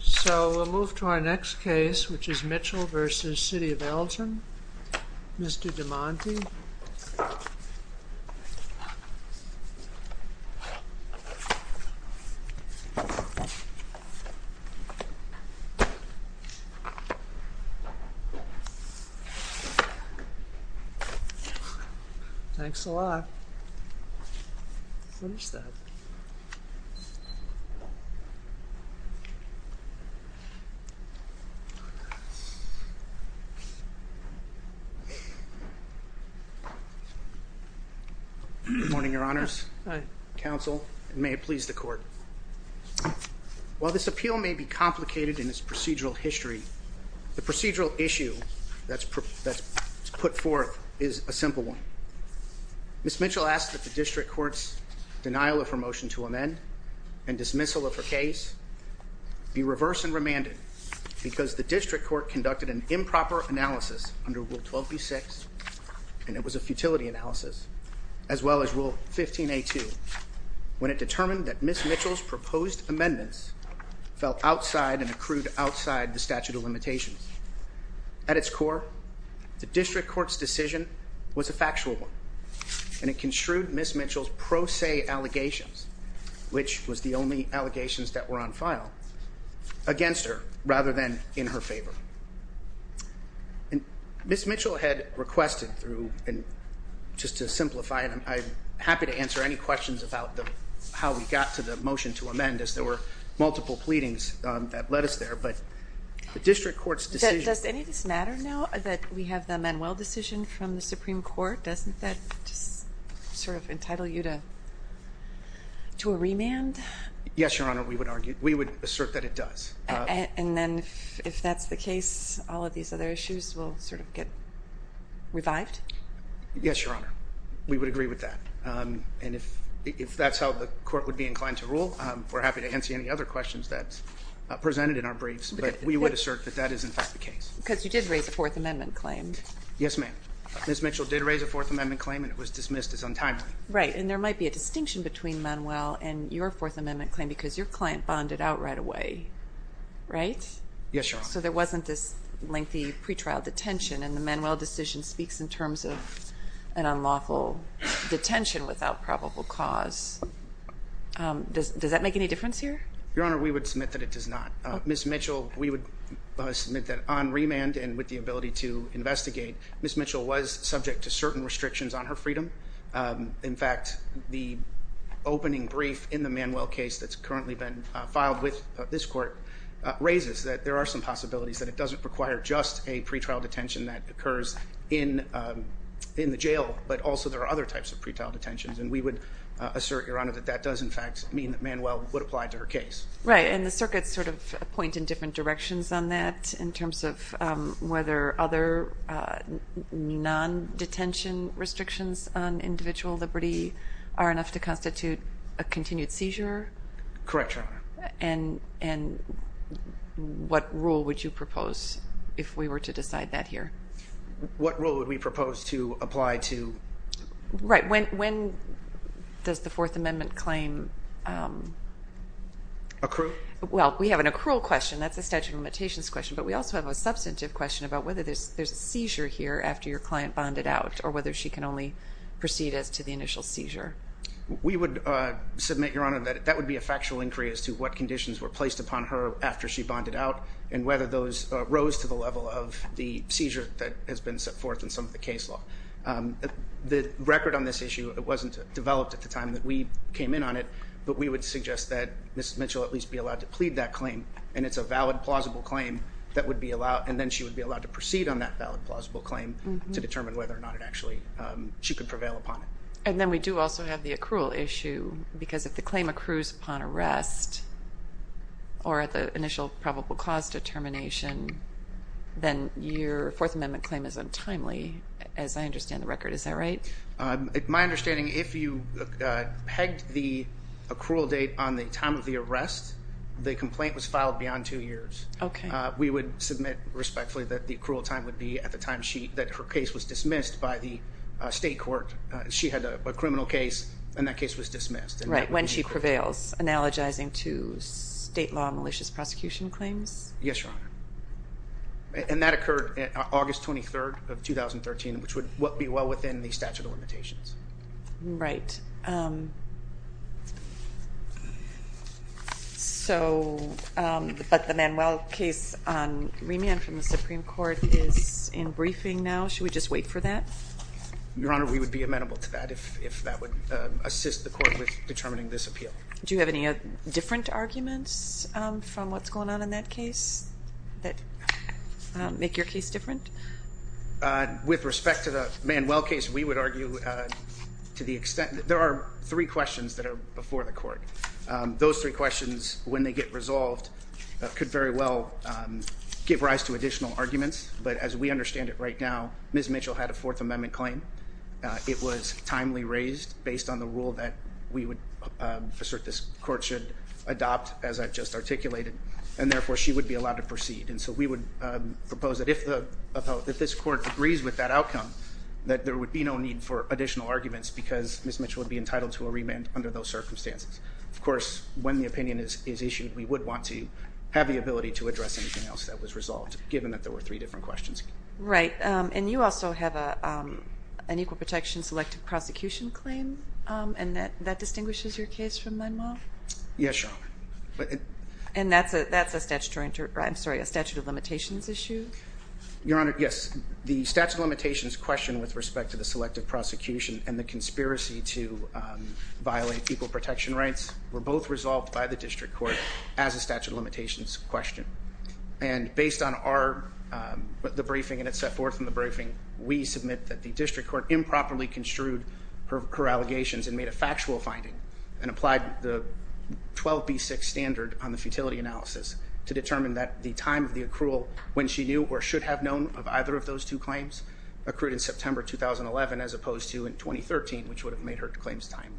So we'll move to our next case, which is Mitchell v. City of Elgin, Mr. DeMonte. Thanks a lot. What is that? Good morning, your honors, counsel, and may it please the court. While this appeal may be complicated in its procedural history, the procedural issue that's put forth is a simple one. Ms. Mitchell asked that the district court's denial of her motion to amend and dismissal of her case be reversed and remanded, because the district court conducted an improper analysis under Rule 12b-6, and it was a futility analysis, as well as Rule 15a-2, when it determined that Ms. Mitchell's proposed amendments fell outside and accrued outside the statute of limitations. At its core, the district court's decision was a factual one, and it construed Ms. Mitchell's pro se allegations, which was the only allegations that were on file, against her rather than in her favor. Ms. Mitchell had requested through, and just to simplify it, I'm happy to answer any questions about how we got to the motion to amend, as there were multiple pleadings that led us there. Does any of this matter now that we have the Manuel decision from the Supreme Court? Doesn't that just sort of entitle you to a remand? Yes, your honor, we would assert that it does. And then if that's the case, all of these other issues will sort of get revived? Yes, your honor, we would agree with that. And if that's how the court would be inclined to rule, we're happy to answer any other questions that are presented in our briefs. But we would assert that that is, in fact, the case. Because you did raise a Fourth Amendment claim. Yes, ma'am. Ms. Mitchell did raise a Fourth Amendment claim, and it was dismissed as untimely. Right, and there might be a distinction between Manuel and your Fourth Amendment claim, because your client bonded out right away, right? Yes, your honor. So there wasn't this lengthy pretrial detention, and the Manuel decision speaks in terms of an unlawful detention without probable cause. Does that make any difference here? Your honor, we would submit that it does not. Ms. Mitchell, we would submit that on remand and with the ability to investigate, Ms. Mitchell was subject to certain restrictions on her freedom. In fact, the opening brief in the Manuel case that's currently been filed with this court raises that there are some possibilities that it doesn't require just a pretrial detention that occurs in the jail, but also there are other types of pretrial detentions. And we would assert, your honor, that that does, in fact, mean that Manuel would apply to her case. Right, and the circuits sort of point in different directions on that in terms of whether other non-detention restrictions on individual liberty are enough to constitute a continued seizure? Correct, your honor. And what rule would you propose if we were to decide that here? What rule would we propose to apply to? Right, when does the Fourth Amendment claim? Accrue? Well, we have an accrual question. That's a statute of limitations question, but we also have a substantive question about whether there's a seizure here after your client bonded out or whether she can only proceed as to the initial seizure. We would submit, your honor, that that would be a factual inquiry as to what conditions were placed upon her after she bonded out and whether those rose to the level of the seizure that has been set forth in some of the case law. The record on this issue, it wasn't developed at the time that we came in on it, but we would suggest that Mrs. Mitchell at least be allowed to plead that claim. And it's a valid, plausible claim that would be allowed, and then she would be allowed to proceed on that valid, plausible claim to determine whether or not it actually, she could prevail upon it. And then we do also have the accrual issue, because if the claim accrues upon arrest or at the initial probable cause determination, then your Fourth Amendment claim is untimely, as I understand the record. Is that right? My understanding, if you pegged the accrual date on the time of the arrest, the complaint was filed beyond two years. Okay. We would submit respectfully that the accrual time would be at the time that her case was dismissed by the state court. She had a criminal case, and that case was dismissed. Right, when she prevails, analogizing to state law malicious prosecution claims? Yes, your honor. And that occurred August 23rd of 2013, which would be well within the statute of limitations. Right. So, but the Manuel case on remand from the Supreme Court is in briefing now. Should we just wait for that? Your honor, we would be amenable to that if that would assist the court with determining this appeal. Do you have any different arguments from what's going on in that case that make your case different? With respect to the Manuel case, we would argue to the extent that there are three questions that are before the court. Those three questions, when they get resolved, could very well give rise to additional arguments. But as we understand it right now, Ms. Mitchell had a Fourth Amendment claim. It was timely raised based on the rule that we would assert this court should adopt, as I've just articulated, and therefore she would be allowed to proceed. And so we would propose that if this court agrees with that outcome, that there would be no need for additional arguments, because Ms. Mitchell would be entitled to a remand under those circumstances. Of course, when the opinion is issued, we would want to have the ability to address anything else that was resolved, given that there were three different questions. Right. And you also have an equal protection selective prosecution claim, and that distinguishes your case from Manuel? Yes, your honor. And that's a statutory, I'm sorry, a statute of limitations issue? Your honor, yes. The statute of limitations question with respect to the selective prosecution and the conspiracy to violate equal protection rights were both resolved by the district court as a statute of limitations question. And based on the briefing and it's set forth in the briefing, we submit that the district court improperly construed her allegations and made a factual finding and applied the 12B6 standard on the futility analysis to determine that the time of the accrual, when she knew or should have known of either of those two claims, accrued in September 2011 as opposed to in 2013, which would have made her claims timely.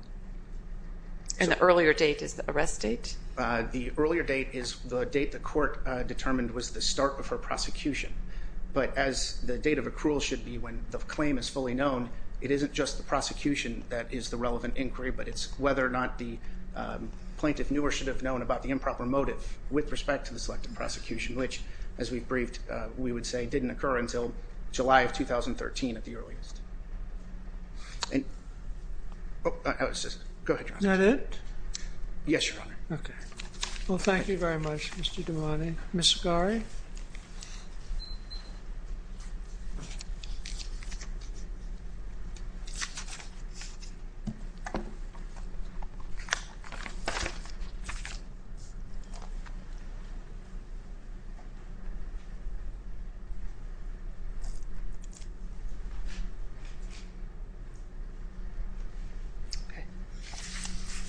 And the earlier date is the arrest date? The earlier date is the date the court determined was the start of her prosecution. But as the date of accrual should be when the claim is fully known, it isn't just the prosecution that is the relevant inquiry, but it's whether or not the plaintiff knew or should have known about the improper motive with respect to the selective prosecution, which, as we've briefed, we would say didn't occur until July of 2013 at the earliest. And, oh, go ahead, your honor. Is that it? Yes, your honor. Okay. Well, thank you very much, Mr. Damani. Ms. Segare?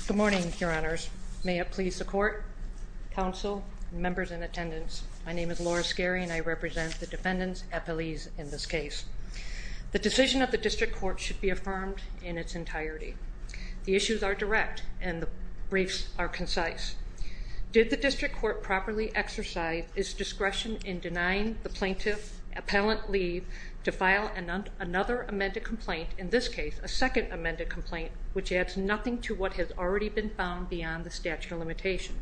Good morning, your honors. May it please the court, counsel, members in attendance. My name is Laura Segare, and I represent the defendants, appellees in this case. The decision of the district court should be affirmed in its entirety. The issues are direct, and the briefs are concise. Did the district court properly exercise its discretion in denying the plaintiff appellant leave to file another amended complaint, in this case a second amended complaint, which adds nothing to what has already been found beyond the statute of limitations,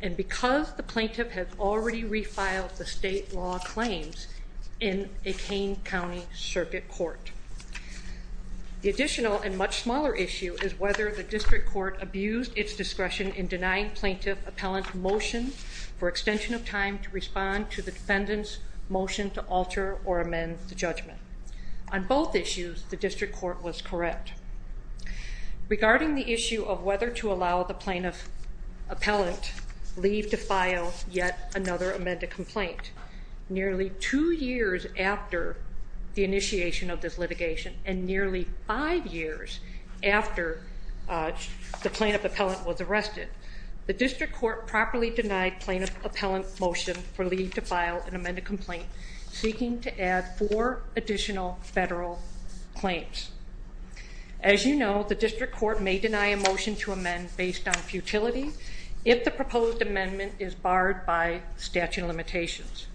and because the plaintiff has already refiled the state law claims in a Kane County circuit court? The additional and much smaller issue is whether the district court abused its discretion in denying plaintiff appellant motion for extension of time to respond to the defendant's motion to alter or amend the judgment. On both issues, the district court was correct. Regarding the issue of whether to allow the plaintiff appellant leave to file yet another amended complaint, nearly two years after the initiation of this litigation and nearly five years after the plaintiff appellant was arrested, the district court properly denied plaintiff appellant motion for leave to file an amended complaint, seeking to add four additional federal claims. As you know, the district court may deny a motion to amend based on futility if the proposed amendment is barred by statute of limitations.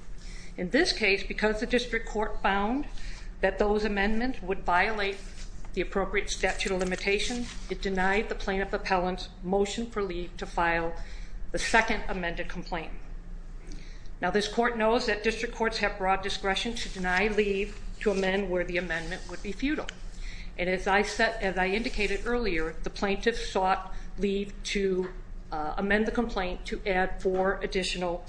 In this case, because the district court found that those amendments would violate the appropriate statute of limitations, it denied the plaintiff appellant motion for leave to file the second amended complaint. Now, this court knows that district courts have broad discretion to deny leave to amend where the amendment would be futile, and as I indicated earlier, the plaintiff sought leave to amend the complaint to add four additional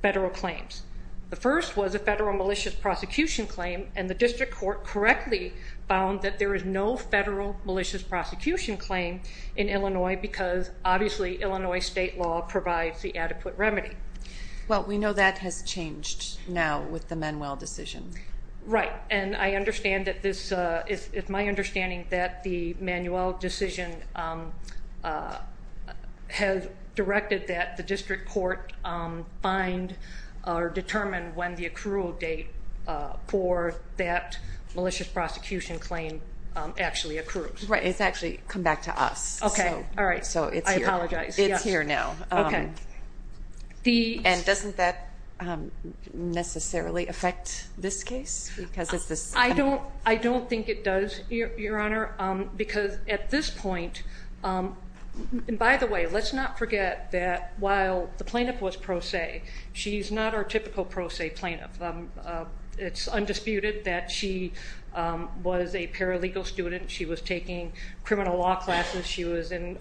federal claims. The first was a federal malicious prosecution claim, and the district court correctly found that there is no federal malicious prosecution claim in Illinois because obviously Illinois state law provides the adequate remedy. Well, we know that has changed now with the Manuel decision. Right, and I understand that this is my understanding that the Manuel decision has directed that the district court find or determine when the accrual date for that malicious prosecution claim actually accrues. Right, it's actually come back to us. Okay, all right. So it's here. I apologize. It's here now. Okay. And doesn't that necessarily affect this case? I don't think it does, Your Honor, because at this point, and by the way, let's not forget that while the plaintiff was pro se, she's not our typical pro se plaintiff. It's undisputed that she was a paralegal student. She was taking criminal law classes. She was in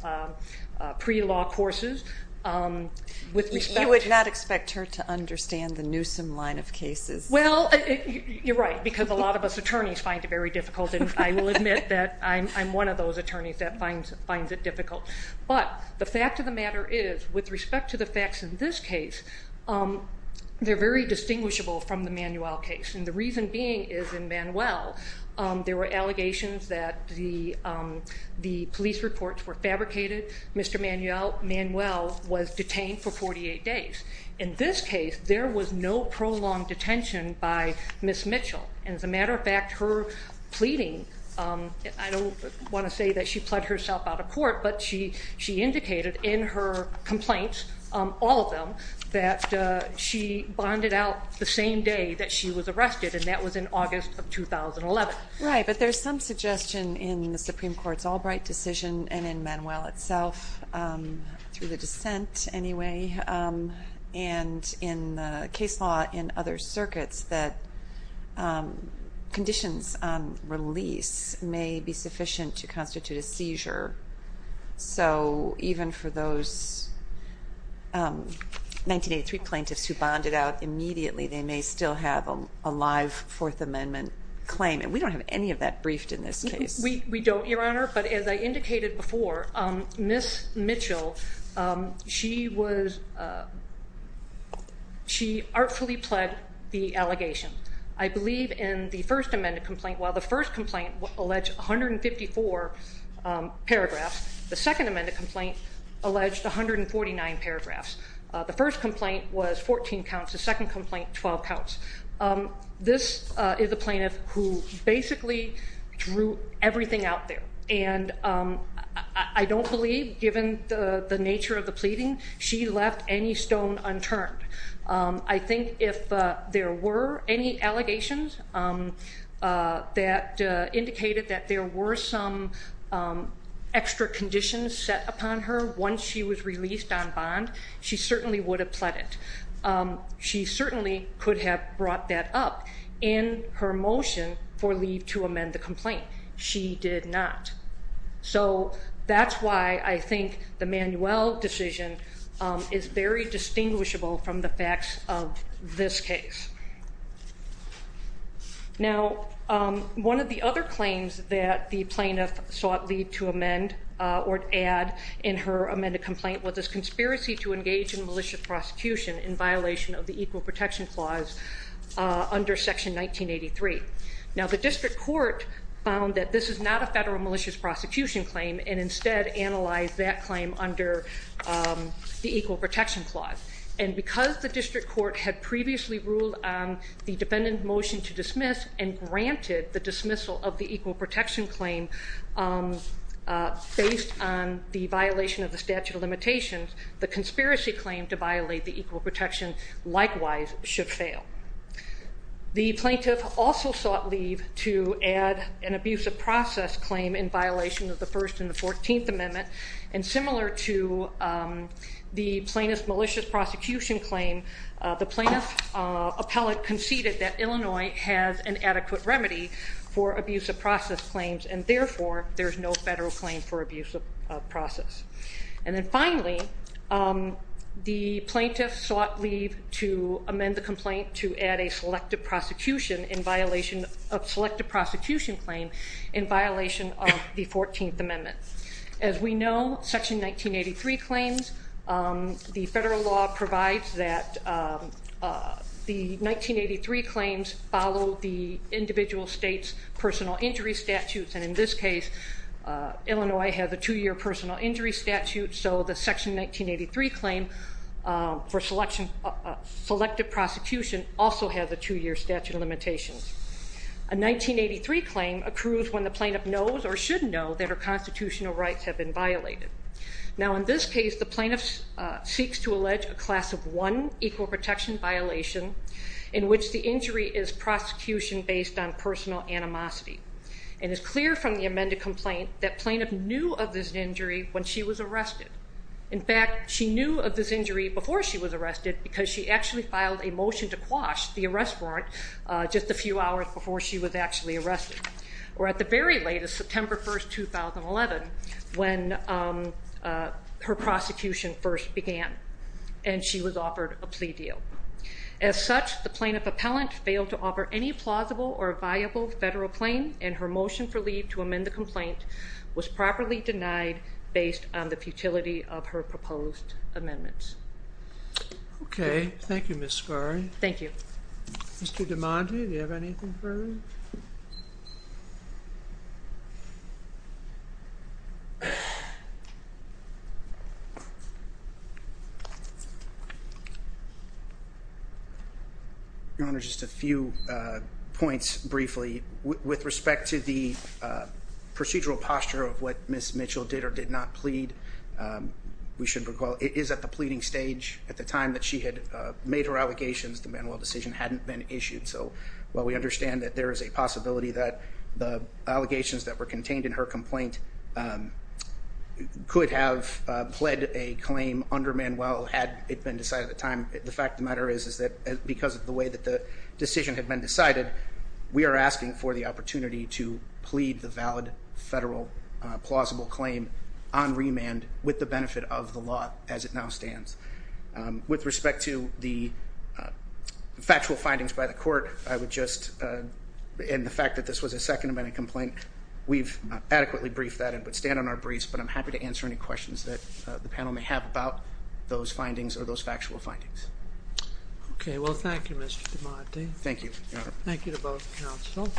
pre-law courses. You would not expect her to understand the Newsom line of cases. Well, you're right, because a lot of us attorneys find it very difficult, and I will admit that I'm one of those attorneys that finds it difficult. But the fact of the matter is, with respect to the facts in this case, they're very distinguishable from the Manuel case, and the reason being is in Manuel, there were allegations that the police reports were fabricated. Mr. Manuel was detained for 48 days. In this case, there was no prolonged detention by Ms. Mitchell. As a matter of fact, her pleading, I don't want to say that she pled herself out of court, but she indicated in her complaints, all of them, that she bonded out the same day that she was arrested, and that was in August of 2011. Right, but there's some suggestion in the Supreme Court's Albright decision and in Manuel itself, through the dissent anyway, and in the case law in other circuits, that conditions on release may be sufficient to constitute a seizure. So even for those 1983 plaintiffs who bonded out immediately, they may still have a live Fourth Amendment claim, and we don't have any of that briefed in this case. We don't, Your Honor, but as I indicated before, Ms. Mitchell, she artfully pled the allegation. I believe in the first amended complaint, while the first complaint alleged 154 paragraphs, the second amended complaint alleged 149 paragraphs. The first complaint was 14 counts. The second complaint, 12 counts. This is a plaintiff who basically drew everything out there, and I don't believe, given the nature of the pleading, she left any stone unturned. I think if there were any allegations that indicated that there were some extra conditions set upon her once she was released on bond, she certainly would have pled it. She certainly could have brought that up in her motion for leave to amend the complaint. She did not. So that's why I think the Manuel decision is very distinguishable from the facts of this case. Now, one of the other claims that the plaintiff sought leave to amend or to add in her amended complaint was this conspiracy to engage in malicious prosecution in violation of the Equal Protection Clause under Section 1983. Now, the district court found that this is not a federal malicious prosecution claim and instead analyzed that claim under the Equal Protection Clause. And because the district court had previously ruled on the defendant's motion to dismiss and granted the dismissal of the Equal Protection Claim based on the violation of the statute of limitations, the conspiracy claim to violate the Equal Protection likewise should fail. The plaintiff also sought leave to add an abuse of process claim in violation of the First and the Fourteenth Amendment. And similar to the plaintiff's malicious prosecution claim, the plaintiff's appellate conceded that Illinois has an adequate remedy for abuse of process claims and therefore there is no federal claim for abuse of process. And then finally, the plaintiff sought leave to amend the complaint to add a selective prosecution in violation of Selective Prosecution Claim in violation of the Fourteenth Amendment. As we know, Section 1983 claims, the federal law provides that the 1983 claims follow the individual state's personal injury statutes. And in this case, Illinois has a two-year personal injury statute, so the Section 1983 claim for selective prosecution also has a two-year statute of limitations. A 1983 claim accrues when the plaintiff knows or should know that her constitutional rights have been violated. Now in this case, the plaintiff seeks to allege a Class of 1 Equal Protection violation in which the injury is prosecution based on personal animosity and it's clear from the amended complaint that plaintiff knew of this injury when she was arrested. In fact, she knew of this injury before she was arrested because she actually filed a motion to quash the arrest warrant just a few hours before she was actually arrested or at the very latest, September 1, 2011, when her prosecution first began and she was offered a plea deal. As such, the plaintiff appellant failed to offer any plausible or viable federal claim and her motion for leave to amend the complaint was properly denied based on the futility of her proposed amendments. Okay. Thank you, Ms. Scari. Thank you. Mr. DiMaggio, do you have anything further? Your Honor, just a few points briefly. With respect to the procedural posture of what Ms. Mitchell did or did not plead, we should recall it is at the pleading stage. At the time that she had made her allegations, the Manuel decision hadn't been issued. So while we understand that there is a possibility that the allegations that were contained in her complaint could have pled a claim under Manuel had it been decided at the time, the fact of the matter is that because of the way that the decision had been decided, we are asking for the opportunity to plead the valid federal plausible claim on remand with the benefit of the law as it now stands. With respect to the factual findings by the court and the fact that this was a second amendment complaint, we've adequately briefed that and would stand on our briefs, but I'm happy to answer any questions that the panel may have about those findings or those factual findings. Okay. Well, thank you, Mr. DiMattei. Thank you, Your Honor. Thank you to both counsel.